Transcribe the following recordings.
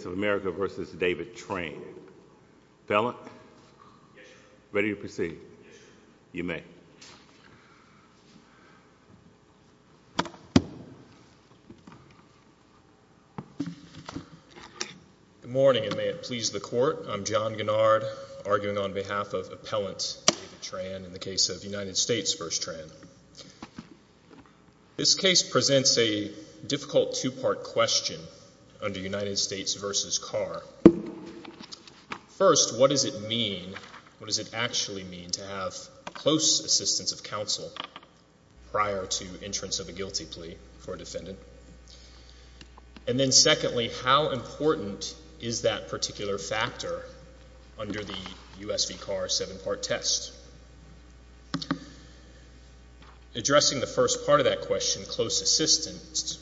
v. David Tran. Appellant? Yes, sir. Ready to proceed? Yes, sir. You may. Good morning and may it please the court. I'm John Gennard, arguing on behalf of Appellant David Tran in the case of United States v. Tran. This case presents a difficult two-part question under United States v. Carr. First, what does it mean, what does it actually mean to have close assistance of counsel prior to entrance of a guilty plea for a defendant? And then secondly, how important is that particular factor under the U.S. v. Carr seven-part test? Addressing the first part of that question, close assistance,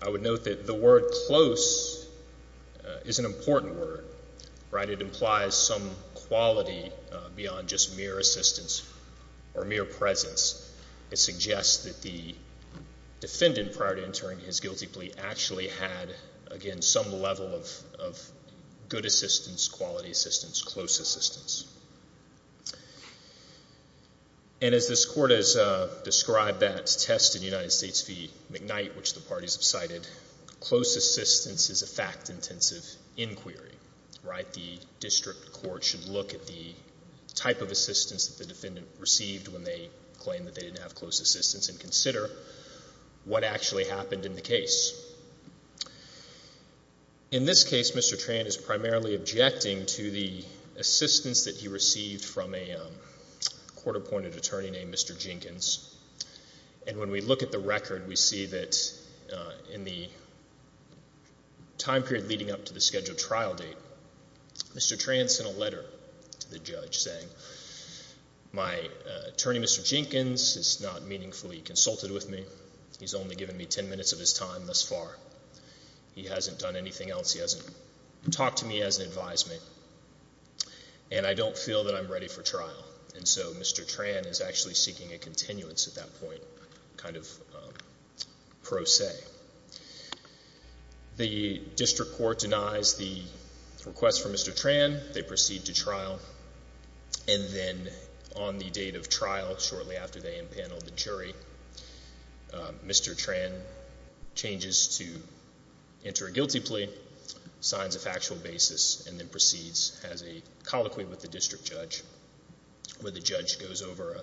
I would note that the word close is an important word, right? It implies some quality beyond just mere assistance or mere presence. It suggests that the defendant prior to entering his guilty plea actually had, again, some level of good assistance, quality assistance, close assistance. And as this court has described that test in United States v. Carr, it's the McKnight which the parties have cited, close assistance is a fact-intensive inquiry, right? The district court should look at the type of assistance that the defendant received when they claimed that they didn't have close assistance and consider what actually happened in the case. In this case, Mr. Tran is primarily objecting to the assistance that he received from a court-appointed attorney named Mr. Jenkins. And when we look at the record, we see that in the time period leading up to the scheduled trial date, Mr. Tran sent a letter to the judge saying, my attorney, Mr. Jenkins, has not meaningfully consulted with me. He's only given me 10 minutes of his time thus far. He hasn't done anything else. He hasn't talked to me as an advisement. And I don't feel that I'm ready for trial. And so Mr. Tran is actually seeking a continuance at that point, kind of pro se. The district court denies the request from Mr. Tran. They proceed to trial. And then on the date of trial, shortly after they impaneled the jury, Mr. Tran changes to enter a guilty plea. And signs a factual basis and then proceeds as a colloquy with the district judge, where the judge goes over a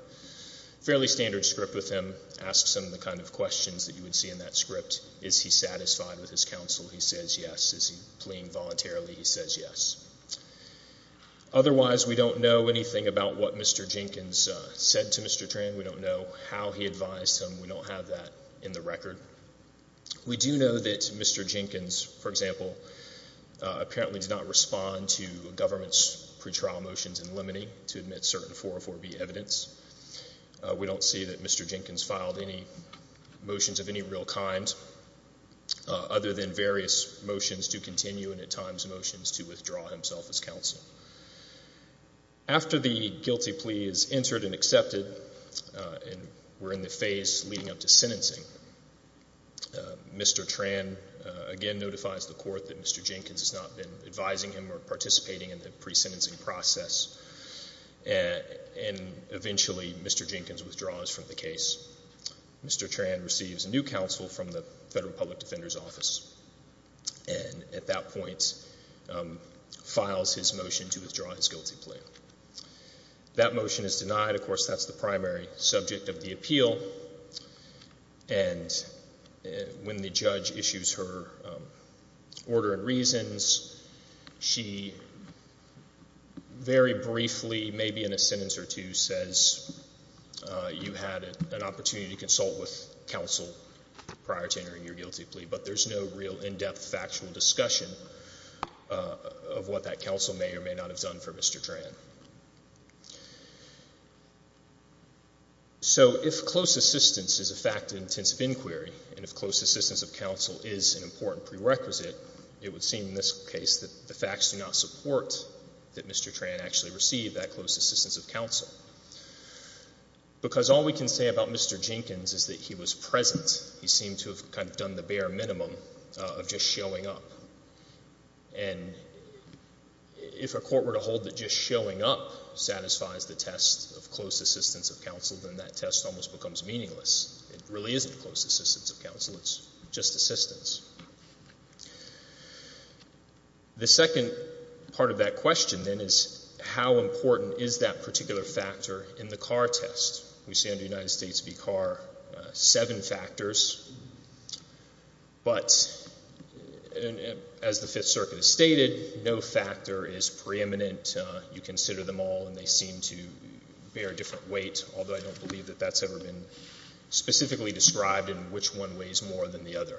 fairly standard script with him, asks him the kind of questions that you would see in that script. Is he satisfied with his counsel? He says yes. Is he pleading voluntarily? He says yes. Otherwise, we don't know anything about what Mr. Jenkins said to Mr. Tran. We don't know how he advised him. We don't have that in the record. We do know that Mr. Jenkins, for example, apparently did not respond to government's pretrial motions in Lemony to admit certain 404B evidence. We don't see that Mr. Jenkins filed any motions of any real kind, other than various motions to continue and at times motions to withdraw himself as counsel. After the guilty plea is entered and accepted, and we're in the phase leading up to sentencing, Mr. Tran again notifies the court that Mr. Jenkins has not been advising him or participating in the pre-sentencing process. And eventually Mr. Jenkins withdraws from the case. Mr. Tran receives a new counsel from the Federal Public Defender's Office and at that point files his motion to withdraw his guilty plea. That is his counsel. And when the judge issues her order of reasons, she very briefly, maybe in a sentence or two, says you had an opportunity to consult with counsel prior to entering your guilty plea. But there's no real in-depth factual discussion of what that counsel may or may not have done for Mr. Tran. So if close assistance is a fact of intensive inquiry and if close assistance of counsel is an important prerequisite, it would seem in this case that the facts do not support that Mr. Tran actually received that close assistance of counsel. Because all we can say about Mr. Jenkins is that he was present. He seemed to have kind of a court where to hold that just showing up satisfies the test of close assistance of counsel, then that test almost becomes meaningless. It really isn't close assistance of counsel. It's just assistance. The second part of that question then is how important is that particular factor in the Carr test? We see under United States v. Carr seven factors, but as the Fifth Circuit has stated, no factor is preeminent. You consider them all and they seem to bear a different weight, although I don't believe that that's ever been specifically described in which one weighs more than the other.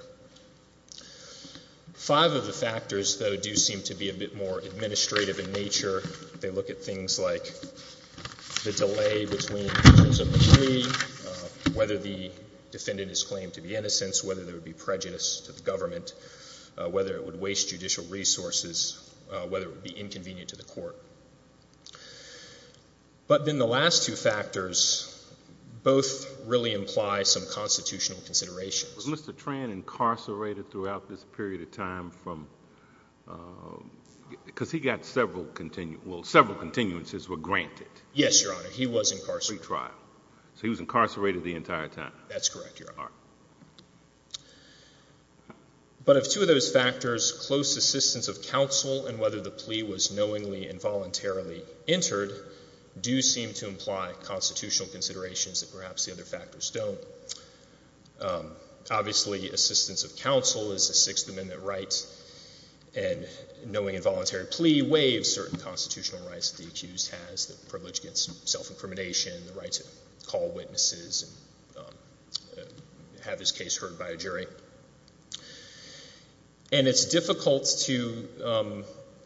Five of the factors, though, do seem to be a bit more administrative in nature. They look at things like the delay between the terms of the plea, whether the defendant is claimed to be innocent, whether there would be prejudice to the government, whether it would waste judicial resources, whether it would be inconvenient to the court. But then the last two factors both really imply some constitutional considerations. Was Mr. Tran incarcerated throughout this period of time from, because he got several, well, several continuances were granted. Yes, Your Honor. He was incarcerated. So he was incarcerated the entire time. That's correct, Your Honor. But of two of those factors, close assistance of counsel and whether the plea was knowingly and voluntarily entered do seem to imply constitutional considerations that perhaps the other factors don't. Obviously, assistance of counsel is a Sixth Amendment right and knowing involuntary plea waives certain constitutional rights that the accused has, the privilege against self-incrimination, the right to call witnesses and have his case heard by a jury. And it's difficult to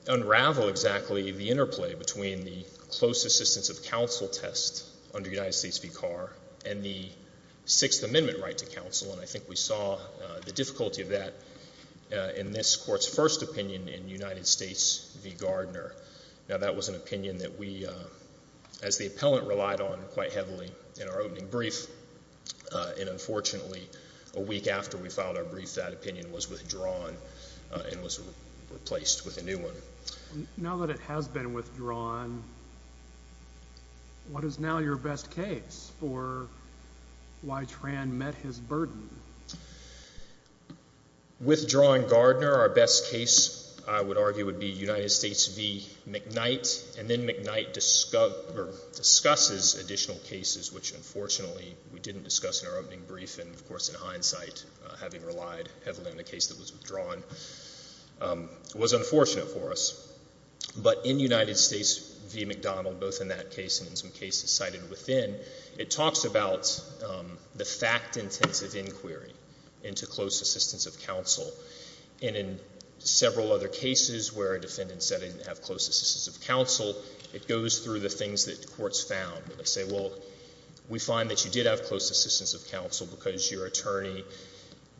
unravel exactly the interplay between the close assistance of counsel test under United States v. Carr and the Sixth Amendment right to counsel. And I think we saw the difficulty of that in this Court's first opinion in United States v. Gardner. Now, that was an opinion that we, as the appellant, relied on quite heavily in our opening brief. And unfortunately, a week after we filed our brief, that opinion was withdrawn and was replaced with a new one. Now that it has been withdrawn, what is now your best case for why Tran met his burden? Withdrawing Gardner, our best case, I would argue, would be United States v. McKnight. And then McKnight discusses additional cases, which unfortunately we didn't discuss in our opening brief and, of course, in hindsight, having relied heavily on the case that was withdrawn, was unfortunate for us. But in United States v. McDonald, both in that case and in some cases cited within, it talks about the fact-intensive inquiry into close assistance of counsel. And in several other cases where a defendant said he didn't have close assistance of counsel, it goes through the things that courts found. They say, well, we find that you did have close assistance of counsel because your attorney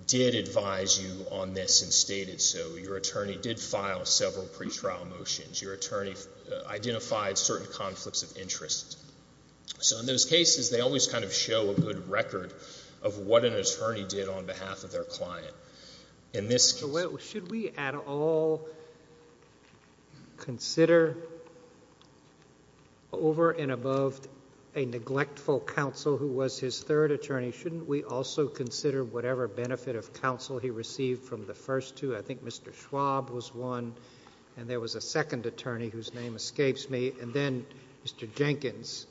did advise you on this and stated so. Your attorney did file several pretrial motions. Your attorney identified certain conflicts of interest. So in those cases, they always kind of show a good record of what an attorney did on behalf of their client. In this case— Should we at all consider over and above a neglectful counsel who was his third attorney, shouldn't we also consider whatever benefit of counsel he received from the first two? I think Mr. Schwab was one, and there was a second attorney whose name escapes me, and then Mr. Jenkins.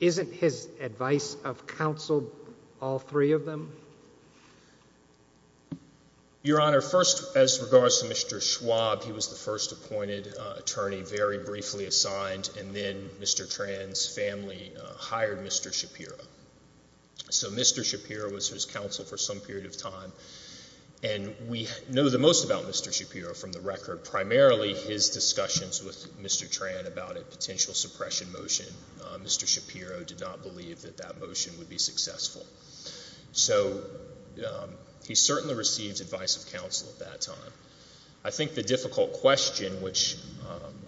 Isn't his advice of counsel all three of them? Your Honor, first, as regards to Mr. Schwab, he was the first appointed attorney very briefly assigned and then Mr. Tran's family hired Mr. Shapiro. So Mr. Shapiro was his counsel for some period of time, and we know the most about Mr. Shapiro from the record. Primarily his discussions with Mr. Tran about a potential suppression motion, Mr. Shapiro did not believe that that motion would be successful. So he certainly received advice of counsel at that time. I think the difficult question, which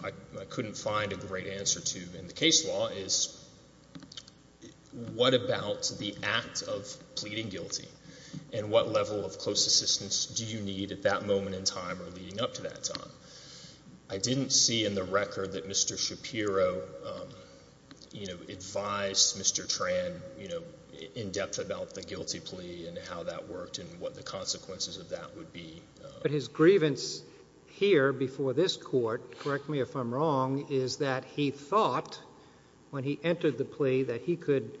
I couldn't find a great answer to in the case, is what level of close assistance do you need at that moment in time or leading up to that time? I didn't see in the record that Mr. Shapiro advised Mr. Tran in-depth about the guilty plea and how that worked and what the consequences of that would be. But his grievance here before this Court, correct me if I'm wrong, is that he thought when he entered the plea that he could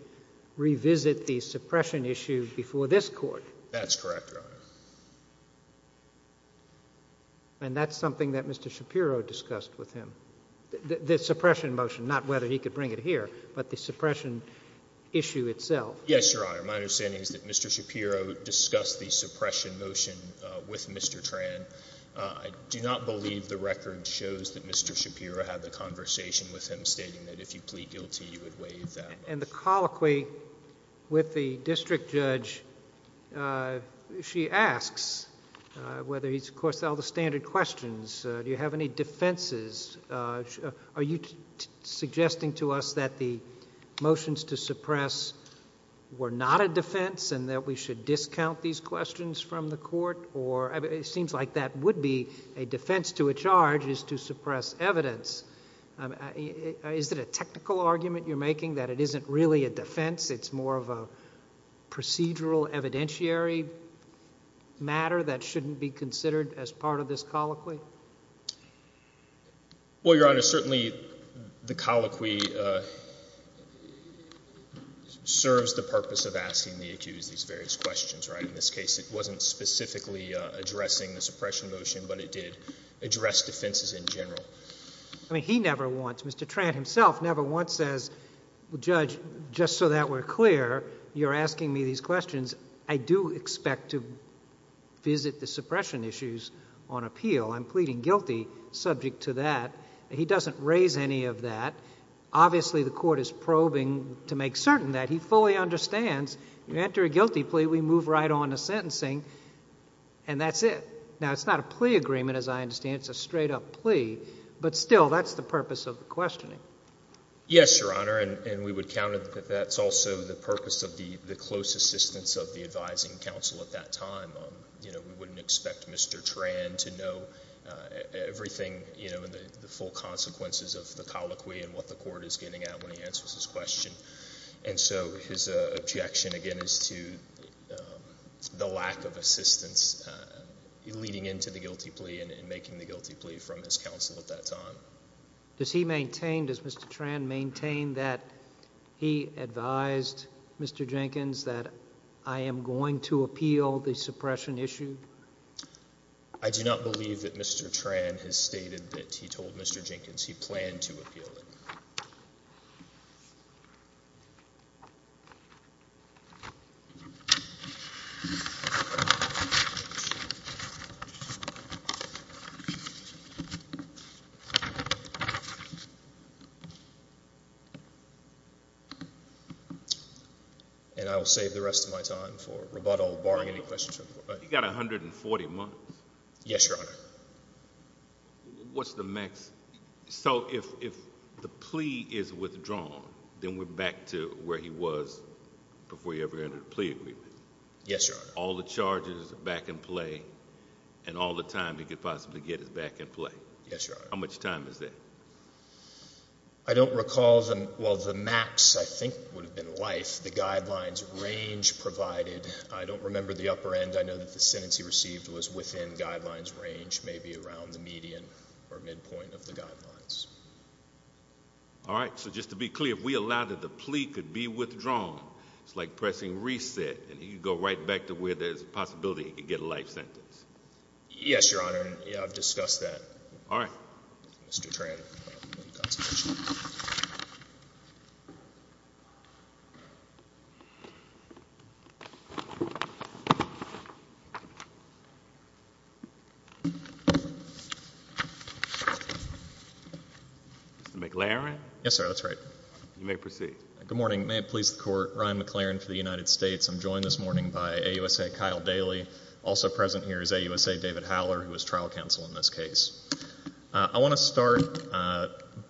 revisit the suppression issue before this Court? That's correct, Your Honor. And that's something that Mr. Shapiro discussed with him, the suppression motion, not whether he could bring it here, but the suppression issue itself? Yes, Your Honor. My understanding is that Mr. Shapiro discussed the suppression motion with Mr. Tran. I do not believe the record shows that Mr. Shapiro had the conversation with him stating that if you plead guilty, you would waive that. And the colloquy with the district judge, she asks, whether he's, of course, held the standard questions, do you have any defenses? Are you suggesting to us that the motions to suppress were not a defense and that we should discount these questions from the Court? Or it seems like that would be a defense to a charge is to suppress evidence. Is it a technical argument you're making that it isn't really a defense? It's more of a procedural evidentiary matter that shouldn't be considered as part of this colloquy? Well, Your Honor, certainly the colloquy serves the purpose of asking the accused these various questions, right? In this case, it wasn't specifically addressing the suppression motion, but it did address defenses in general. I mean, he never wants, Mr. Tran himself never wants, as the judge, just so that we're clear, you're asking me these questions. I do expect to visit the suppression issues on appeal. I'm pleading guilty subject to that. He doesn't raise any of that. Obviously, the Court is going to move right on to sentencing, and that's it. Now, it's not a plea agreement, as I understand. It's a straight-up plea. But still, that's the purpose of the questioning. Yes, Your Honor, and we would count it that that's also the purpose of the close assistance of the advising counsel at that time. We wouldn't expect Mr. Tran to know everything, the full consequences of the colloquy and what the Court is getting at when he answers his question. And so, his objection, again, is to the lack of assistance leading into the guilty plea and making the guilty plea from his counsel at that time. Does he maintain, does Mr. Tran maintain that he advised Mr. Jenkins that I am going to appeal the suppression issue? I do not believe that Mr. Tran has stated that he told Mr. Jenkins he planned to appeal the suppression issue. And I will save the rest of my time for rebuttal, barring any questions. You've got 140 months. Yes, Your Honor. What's the max? So, if the plea is withdrawn, then we're back to where he was before he ever entered a plea agreement? Yes, Your Honor. All the charges are back in play, and all the time he could possibly get is back in play? Yes, Your Honor. How much time is that? I don't recall the, well, the max, I think, would have been life. The guidelines range provided, I don't remember the upper end. I know that the sentence he received was within the guidelines range, maybe around the median or midpoint of the guidelines. All right. So, just to be clear, if we allow that the plea could be withdrawn, it's like pressing reset, and he could go right back to where there's a possibility he could get a life sentence? Yes, Your Honor. Yeah, I've discussed that with Mr. Tran. Mr. McLaren? Yes, sir. That's right. You may proceed. Good morning. May it please the Court, Ryan McLaren for the United States. I'm joined this morning by AUSA Kyle Daly. Also present here is AUSA David Howler, who is trial counsel in this case. I want to start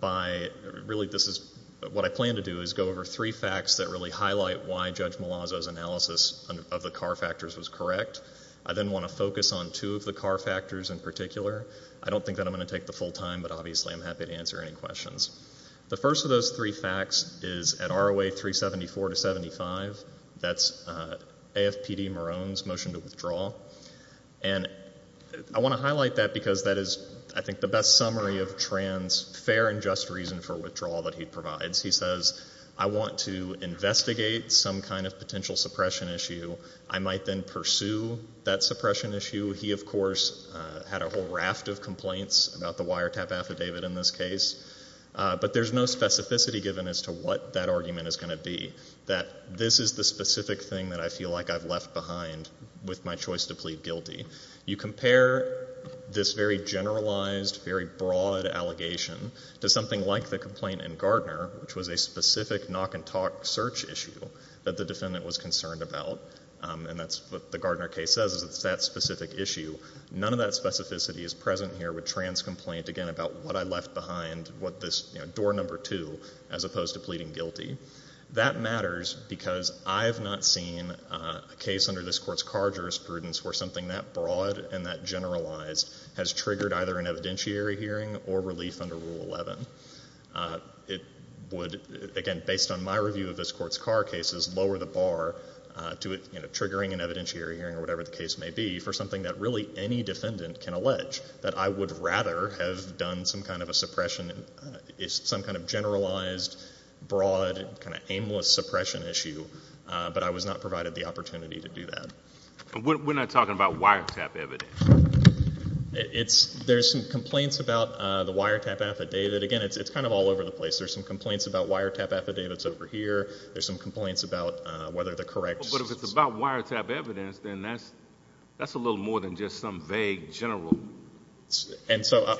by, really, this is, what I plan to do is go over three facts that really highlight why Judge Malazzo's analysis of the car factors was correct. I then want to go over the car factors in particular. I don't think that I'm going to take the full time, but obviously I'm happy to answer any questions. The first of those three facts is at ROA 374 to 75, that's AFPD Marone's motion to withdraw. And I want to highlight that because that is, I think, the best summary of Tran's fair and just reason for withdrawal that he provides. He says, I want to investigate some kind of car factors. Had a whole raft of complaints about the wiretap affidavit in this case. But there's no specificity given as to what that argument is going to be, that this is the specific thing that I feel like I've left behind with my choice to plead guilty. You compare this very generalized, very broad allegation to something like the complaint in Gardner, which was a specific knock and talk search issue that the defendant was concerned about. And that's what the Gardner case says, it's that specific issue. None of that specificity is present here with Tran's complaint, again, about what I left behind, what this, you know, door number two, as opposed to pleading guilty. That matters because I've not seen a case under this court's car jurisprudence where something that broad and that generalized has triggered either an evidentiary hearing or relief under Rule 11. It would, again, based on my review of this court's car cases, lower the bar to it, you know, triggering an evidentiary hearing or whatever the case may be for something that really any defendant can allege. That I would rather have done some kind of a suppression, some kind of generalized, broad, kind of aimless suppression issue, but I was not provided the opportunity to do that. We're not talking about wiretap evidence. There's some complaints about the wiretap affidavit. Again, it's kind of all over the place. There's some complaints about wiretap affidavits over here. There's some complaints about whether the correct... But if it's about wiretap evidence, then that's a little more than just some vague general... And so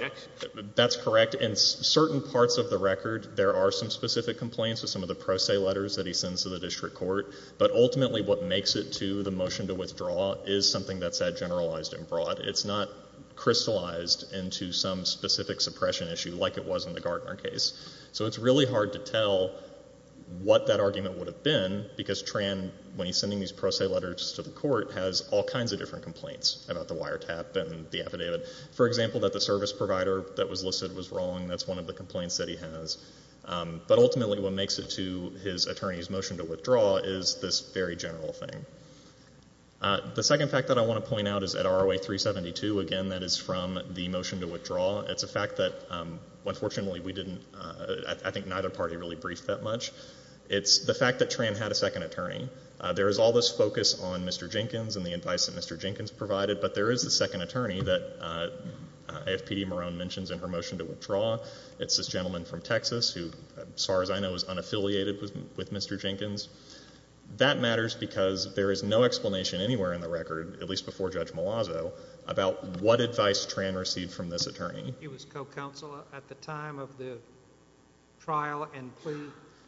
that's correct. In certain parts of the record, there are some specific complaints with some of the pro se letters that he sends to the district court, but ultimately what makes it to the motion to withdraw is something that's that generalized and broad. It's not crystallized into some specific suppression issue like it was in the Gartner case. So it's really hard to tell what that argument would have been because Tran, when he's sending these pro se letters to the court, has all kinds of different complaints about the wiretap and the affidavit. For example, that the service provider that was listed was wrong. That's one of the complaints that he has. But ultimately what makes it to his attorney's motion to withdraw is this very general thing. The second fact that I want to point out is at ROA 372, again, that is from the motion to withdraw. It's a fact that unfortunately we didn't... I think neither party really briefed that much. It's the fact that Tran had a second attorney. There is all this focus on Mr. Jenkins and the advice that Mr. Jenkins provided, but there is a second attorney that AFPD Marone mentions in her motion to withdraw. It's this gentleman from Texas who, as far as I know, is unaffiliated with Mr. Jenkins. That matters because there is no explanation anywhere in the record, at least before Judge Malazzo, about what advice Tran received from this attorney. He was co-counsel at the time of the trial and plea.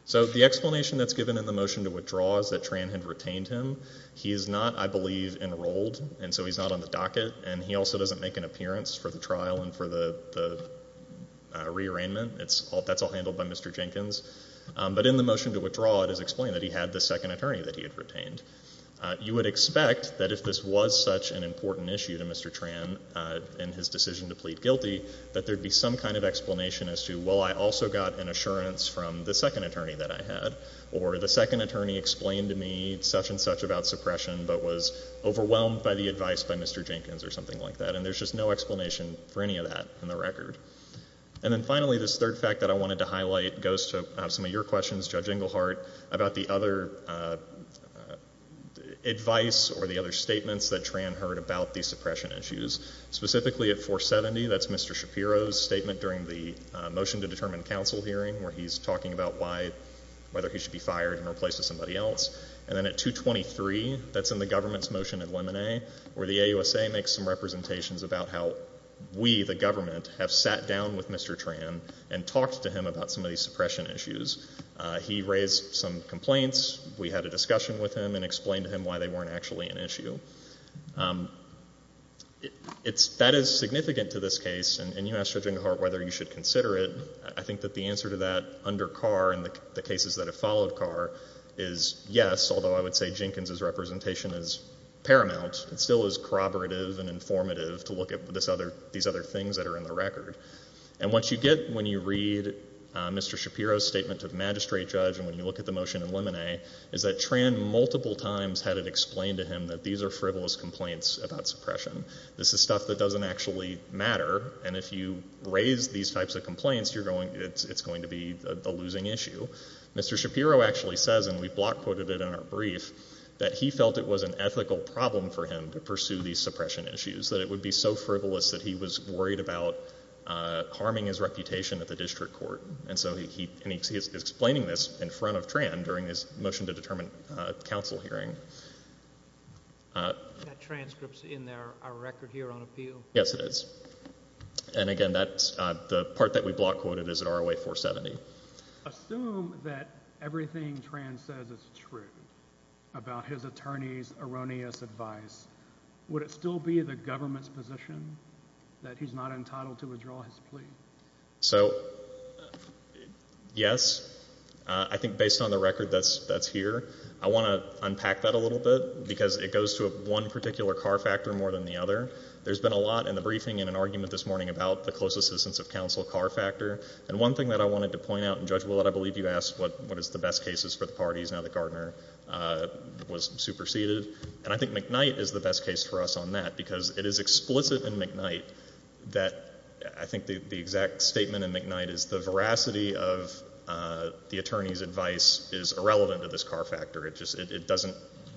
So the explanation that's given in the motion to withdraw is that Tran had retained him. He is not, I believe, enrolled, and so he's not on the docket, and he also doesn't make an appearance for the trial and for the rearrangement. That's all handled by Mr. Jenkins. But in the motion to withdraw, it is explained that he had this second attorney that he had retained. You would expect that if this was such an important issue to Mr. Tran and his decision to plead guilty, that there would be some kind of explanation as to, well, I also got an assurance from the second attorney that I had, or the second attorney explained to me such and such about suppression but was overwhelmed by the advice by Mr. Jenkins or something like that, and there's just no explanation for any of that in the record. And then finally, this third fact that I wanted to highlight goes to some of your questions, Judge Englehart, about the other advice or the other statements that Tran heard about these suppression issues. Specifically at 470, that's Mr. Shapiro's statement during the motion to determine counsel hearing where he's talking about why, whether he should be fired and replaced with somebody else. And then at 223, that's in the government's motion at Lemonet, where the AUSA makes some representations about how we, the government, have sat down with Mr. Tran and talked to him about some of these suppression issues. He raised some complaints. We had a discussion with him and explained to him why they weren't actually an issue. That is significant to this case, and you asked, Judge Englehart, whether you should consider it. I think that the answer to that under Carr and the cases that have followed Carr is yes, although I would say Jenkins's representation is paramount. It still is corroborative and informative to look at these other things that are in the record. And what you get when you read Mr. Shapiro's statement to the magistrate judge and when you look at the motion at Lemonet is that Tran multiple times had it explained to him that these are frivolous complaints about suppression. This is stuff that doesn't actually matter, and if you raise these types of complaints, you're going, it's going to be a losing issue. Mr. Shapiro actually says, and we block quoted it in our brief, that he felt it was an ethical problem for him to pursue these suppression issues, that it would be so frivolous that he was worried about harming his reputation at the district court, and so he is explaining this in front of Tran during his motion to determine counsel hearing. That transcript's in our record here on appeal. Yes, it is. And again, that's the part that we block quoted is at ROA 470. Assume that everything Tran says is true about his attorney's erroneous advice, would it still be the government's position that he's not guilty? Yes. I think based on the record that's here, I want to unpack that a little bit because it goes to one particular car factor more than the other. There's been a lot in the briefing and an argument this morning about the close assistance of counsel car factor, and one thing that I wanted to point out, and Judge Willett, I believe you asked what is the best cases for the parties now that Gardner was superseded, and I think McKnight is the best case for us on that because it is explicit in McKnight that I think the exact statement in McKnight is the veracity of the attorney's advice is irrelevant to this car factor. It doesn't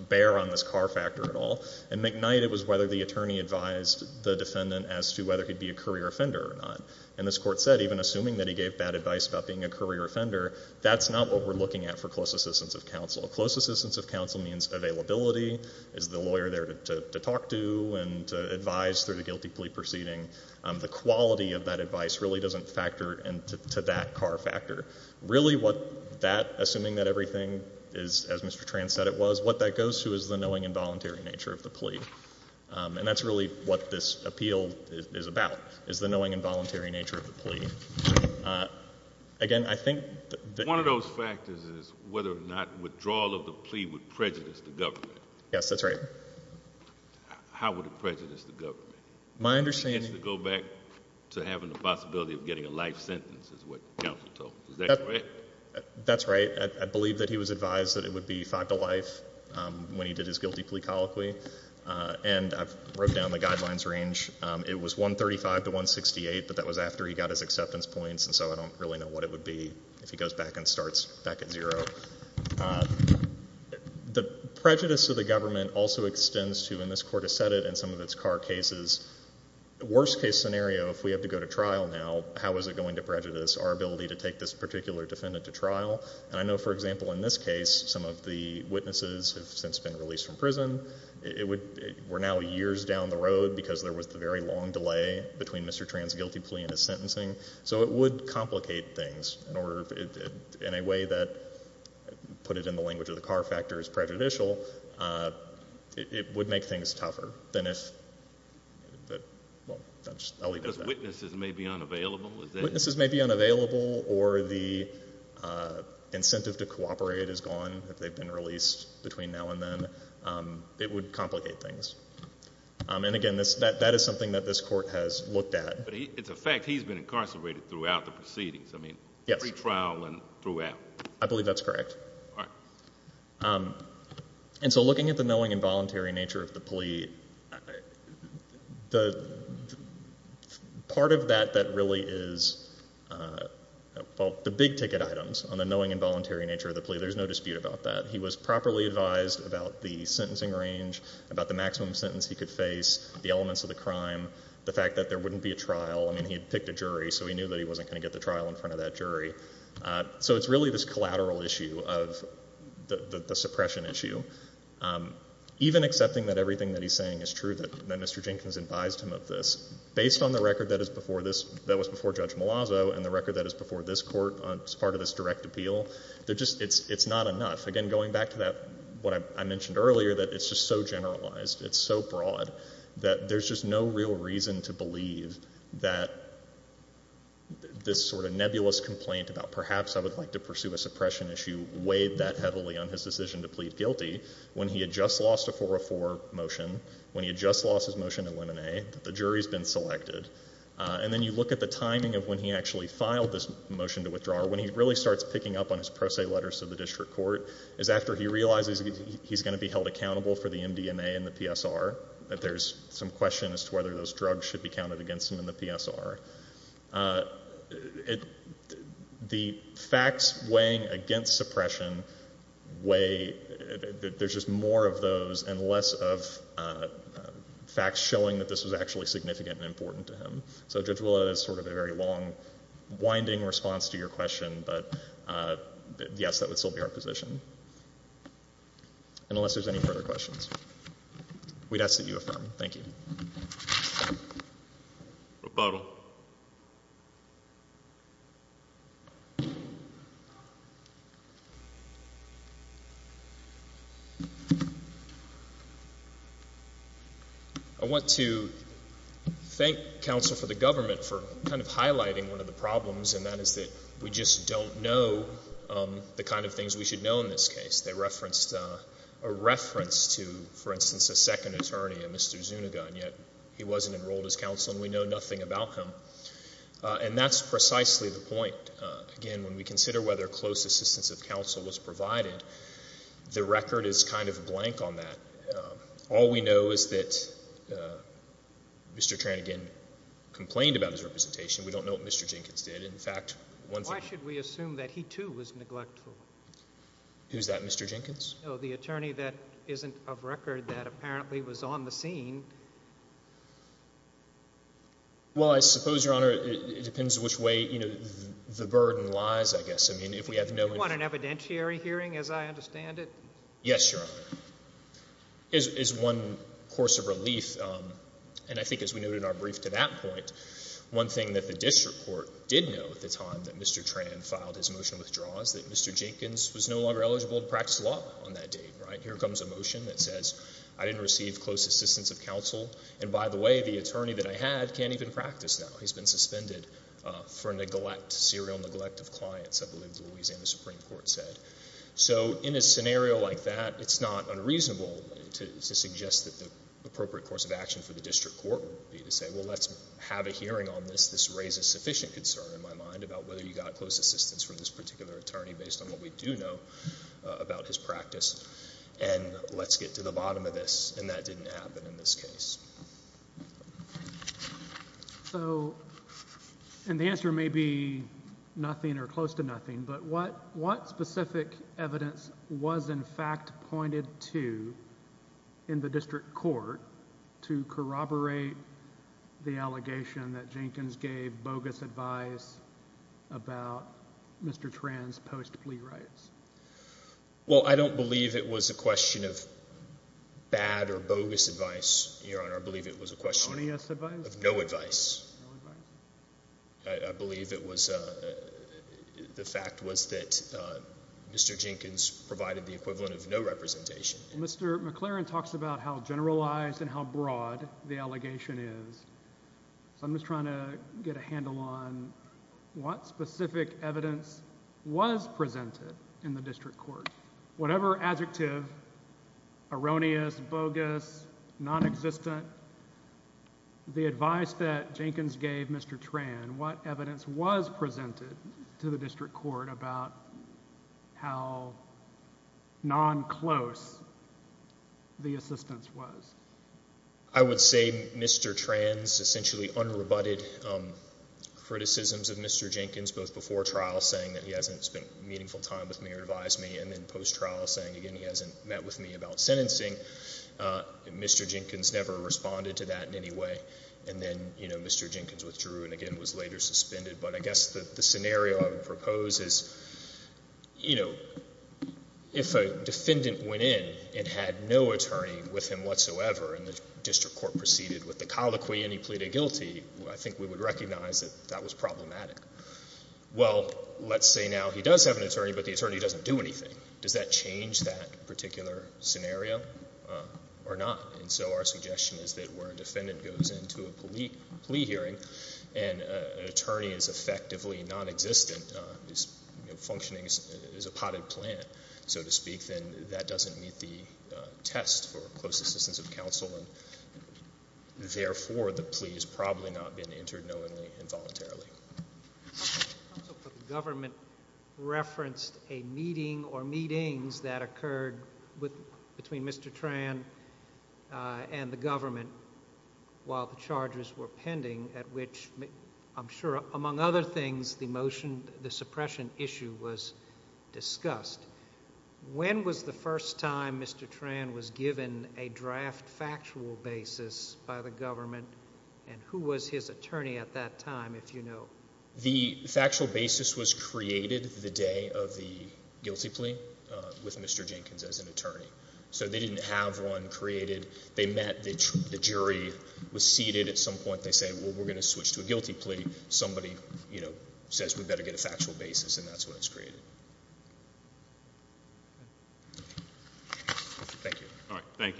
bear on this car factor at all, and McKnight, it was whether the attorney advised the defendant as to whether he'd be a career offender or not, and this court said even assuming that he gave bad advice about being a career offender, that's not what we're looking at for close assistance of counsel. Close assistance of counsel means availability. Is the lawyer there to talk to and to advise through the guilty plea proceeding? The quality of that advice really doesn't factor into that car factor. Really what that, assuming that everything is, as Mr. Tran said it was, what that goes to is the knowing and voluntary nature of the plea, and that's really what this appeal is about, is the knowing and voluntary nature of the plea. Again, I think that... One of those factors is whether or not withdrawal of the plea would prejudice the government. Yes, that's right. How would it prejudice the government? My understanding... To having the possibility of getting a life sentence is what counsel told. Is that correct? That's right. I believe that he was advised that it would be five to life when he did his guilty plea colloquy, and I've wrote down the guidelines range. It was 135 to 168, but that was after he got his acceptance points, and so I don't really know what it would be if he goes back and starts back at zero. The prejudice of the government also extends to, and this court has said it in some of its... Worst case scenario, if we have to go to trial now, how is it going to prejudice our ability to take this particular defendant to trial? I know, for example, in this case, some of the witnesses have since been released from prison. We're now years down the road because there was the very long delay between Mr. Tran's guilty plea and his sentencing, so it would complicate things in a way that, put it in the language of the car factor, is prejudicial. It would make things tougher than if... I'll leave it at that. Because witnesses may be unavailable? Witnesses may be unavailable, or the incentive to cooperate is gone if they've been released between now and then. It would complicate things, and again, that is something that this court has looked at. But it's a fact he's been incarcerated throughout the proceedings. I mean, pre-trial and throughout. I believe that's correct. And so looking at the knowing and voluntary nature of the plea, part of that that really is... Well, the big ticket items on the knowing and voluntary nature of the plea, there's no dispute about that. He was properly advised about the sentencing range, about the maximum sentence he could face, the elements of the crime, the fact that there wouldn't be a trial. I mean, he had picked a jury, so he knew that he wasn't going to get a trial. So there's this collateral issue of the suppression issue. Even accepting that everything that he's saying is true, that Mr. Jenkins advised him of this, based on the record that was before Judge Malazzo and the record that is before this court as part of this direct appeal, it's not enough. Again, going back to what I mentioned earlier, that it's just so generalized, it's so broad, that there's just no real reason to believe that this sort of nebulous complaint about perhaps I would like to pursue a suppression issue weighed that heavily on his decision to plead guilty, when he had just lost a 404 motion, when he had just lost his motion to eliminate, that the jury's been selected. And then you look at the timing of when he actually filed this motion to withdraw, when he really starts picking up on his pro se letters to the district court, is after he realizes he's going to be held accountable for the MDMA and the PSR, that there's some question as to whether those drugs should be counted against him in the PSR. The facts weighing against suppression weigh, there's just more of those and less of facts showing that this was actually significant and important to him. So Judge Willett, that's sort of a very long, winding response to your question, but yes, that would still be our position. Unless there's any further questions. We'd like to hear from you, Mr. Zuniga, if you'd like to add anything to that. I want to thank counsel for the government for kind of highlighting one of the problems and that is that we just don't know the kind of things we should know in this case. They said he wasn't enrolled as counsel and we know nothing about him. And that's precisely the point. Again, when we consider whether close assistance of counsel was provided, the record is kind of blank on that. All we know is that Mr. Trannigan complained about his representation. We don't know what Mr. Jenkins did. In fact, one thing Why should we assume that he too was neglectful? Who's that, Mr. Jenkins? The attorney that isn't of record that apparently was on the scene. Well, I suppose, Your Honor, it depends which way the burden lies, I guess. I mean, if we have no You want an evidentiary hearing, as I understand it? Yes, Your Honor. As one course of relief, and I think as we noted in our brief to that point, one thing that the district court did know at the time that Mr. Trann filed his motion withdraws, that Mr. Jenkins was no longer eligible to practice law on that date. Here comes a motion that says, I didn't receive close assistance of counsel. And by the way, the attorney that I had can't even practice now. He's been suspended for neglect, serial neglect of clients, I believe the Louisiana Supreme Court said. So in a scenario like that, it's not unreasonable to suggest that the appropriate course of action for the district court would be to say, well, let's have a hearing on this. This particular attorney, based on what we do know about his practice, and let's get to the bottom of this. And that didn't happen in this case. So, and the answer may be nothing or close to nothing, but what specific evidence was in fact pointed to in the district court to corroborate the allegation that Jenkins gave bogus advice about Mr. Trann's post-plea rights? Well, I don't believe it was a question of bad or bogus advice, Your Honor. I believe it was a question of no advice. I believe it was, the fact was that Mr. Jenkins provided the equivalent of no representation. Mr. McLaren talks about how generalized and how broad the allegation is. So I'm just trying to get a handle on what specific evidence was presented in the district court. Whatever adjective, erroneous, bogus, nonexistent, the advice that Jenkins gave Mr. Trann, what evidence was presented to the district court about how non-close the assistance was? I would say Mr. Trann's essentially unrebutted criticisms of Mr. Jenkins, both before trial saying that he hasn't spent meaningful time with me or advised me, and then post-trial saying, again, he hasn't met with me about sentencing. Mr. Jenkins never responded to that in any way. And then, you know, Mr. Jenkins withdrew and again was later suspended. But I guess the scenario I would propose is, you know, if a defendant went in and had no testimony whatsoever and the district court proceeded with the colloquy and he pleaded guilty, I think we would recognize that that was problematic. Well, let's say now he does have an attorney, but the attorney doesn't do anything. Does that change that particular scenario or not? And so our suggestion is that where a defendant goes into a plea hearing and an attorney is effectively nonexistent, is functioning as a potted plant, so to speak, then that doesn't meet the test for close assistance of counsel and therefore the plea has probably not been entered knowingly and voluntarily. Counsel for the government referenced a meeting or meetings that occurred between Mr. Trann and the government while the charges were pending at which, I'm sure, among other things, the motion, the suppression issue was discussed. When was the first time Mr. Trann was given a draft factual basis by the government and who was his attorney at that time, if you know? The factual basis was created the day of the guilty plea with Mr. Jenkins as an attorney. So they didn't have one created. They met, the jury was seated. At some point they said, well, we're going to switch to a guilty plea. Somebody says we better get a factual basis and that's when it's created. Thank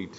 you.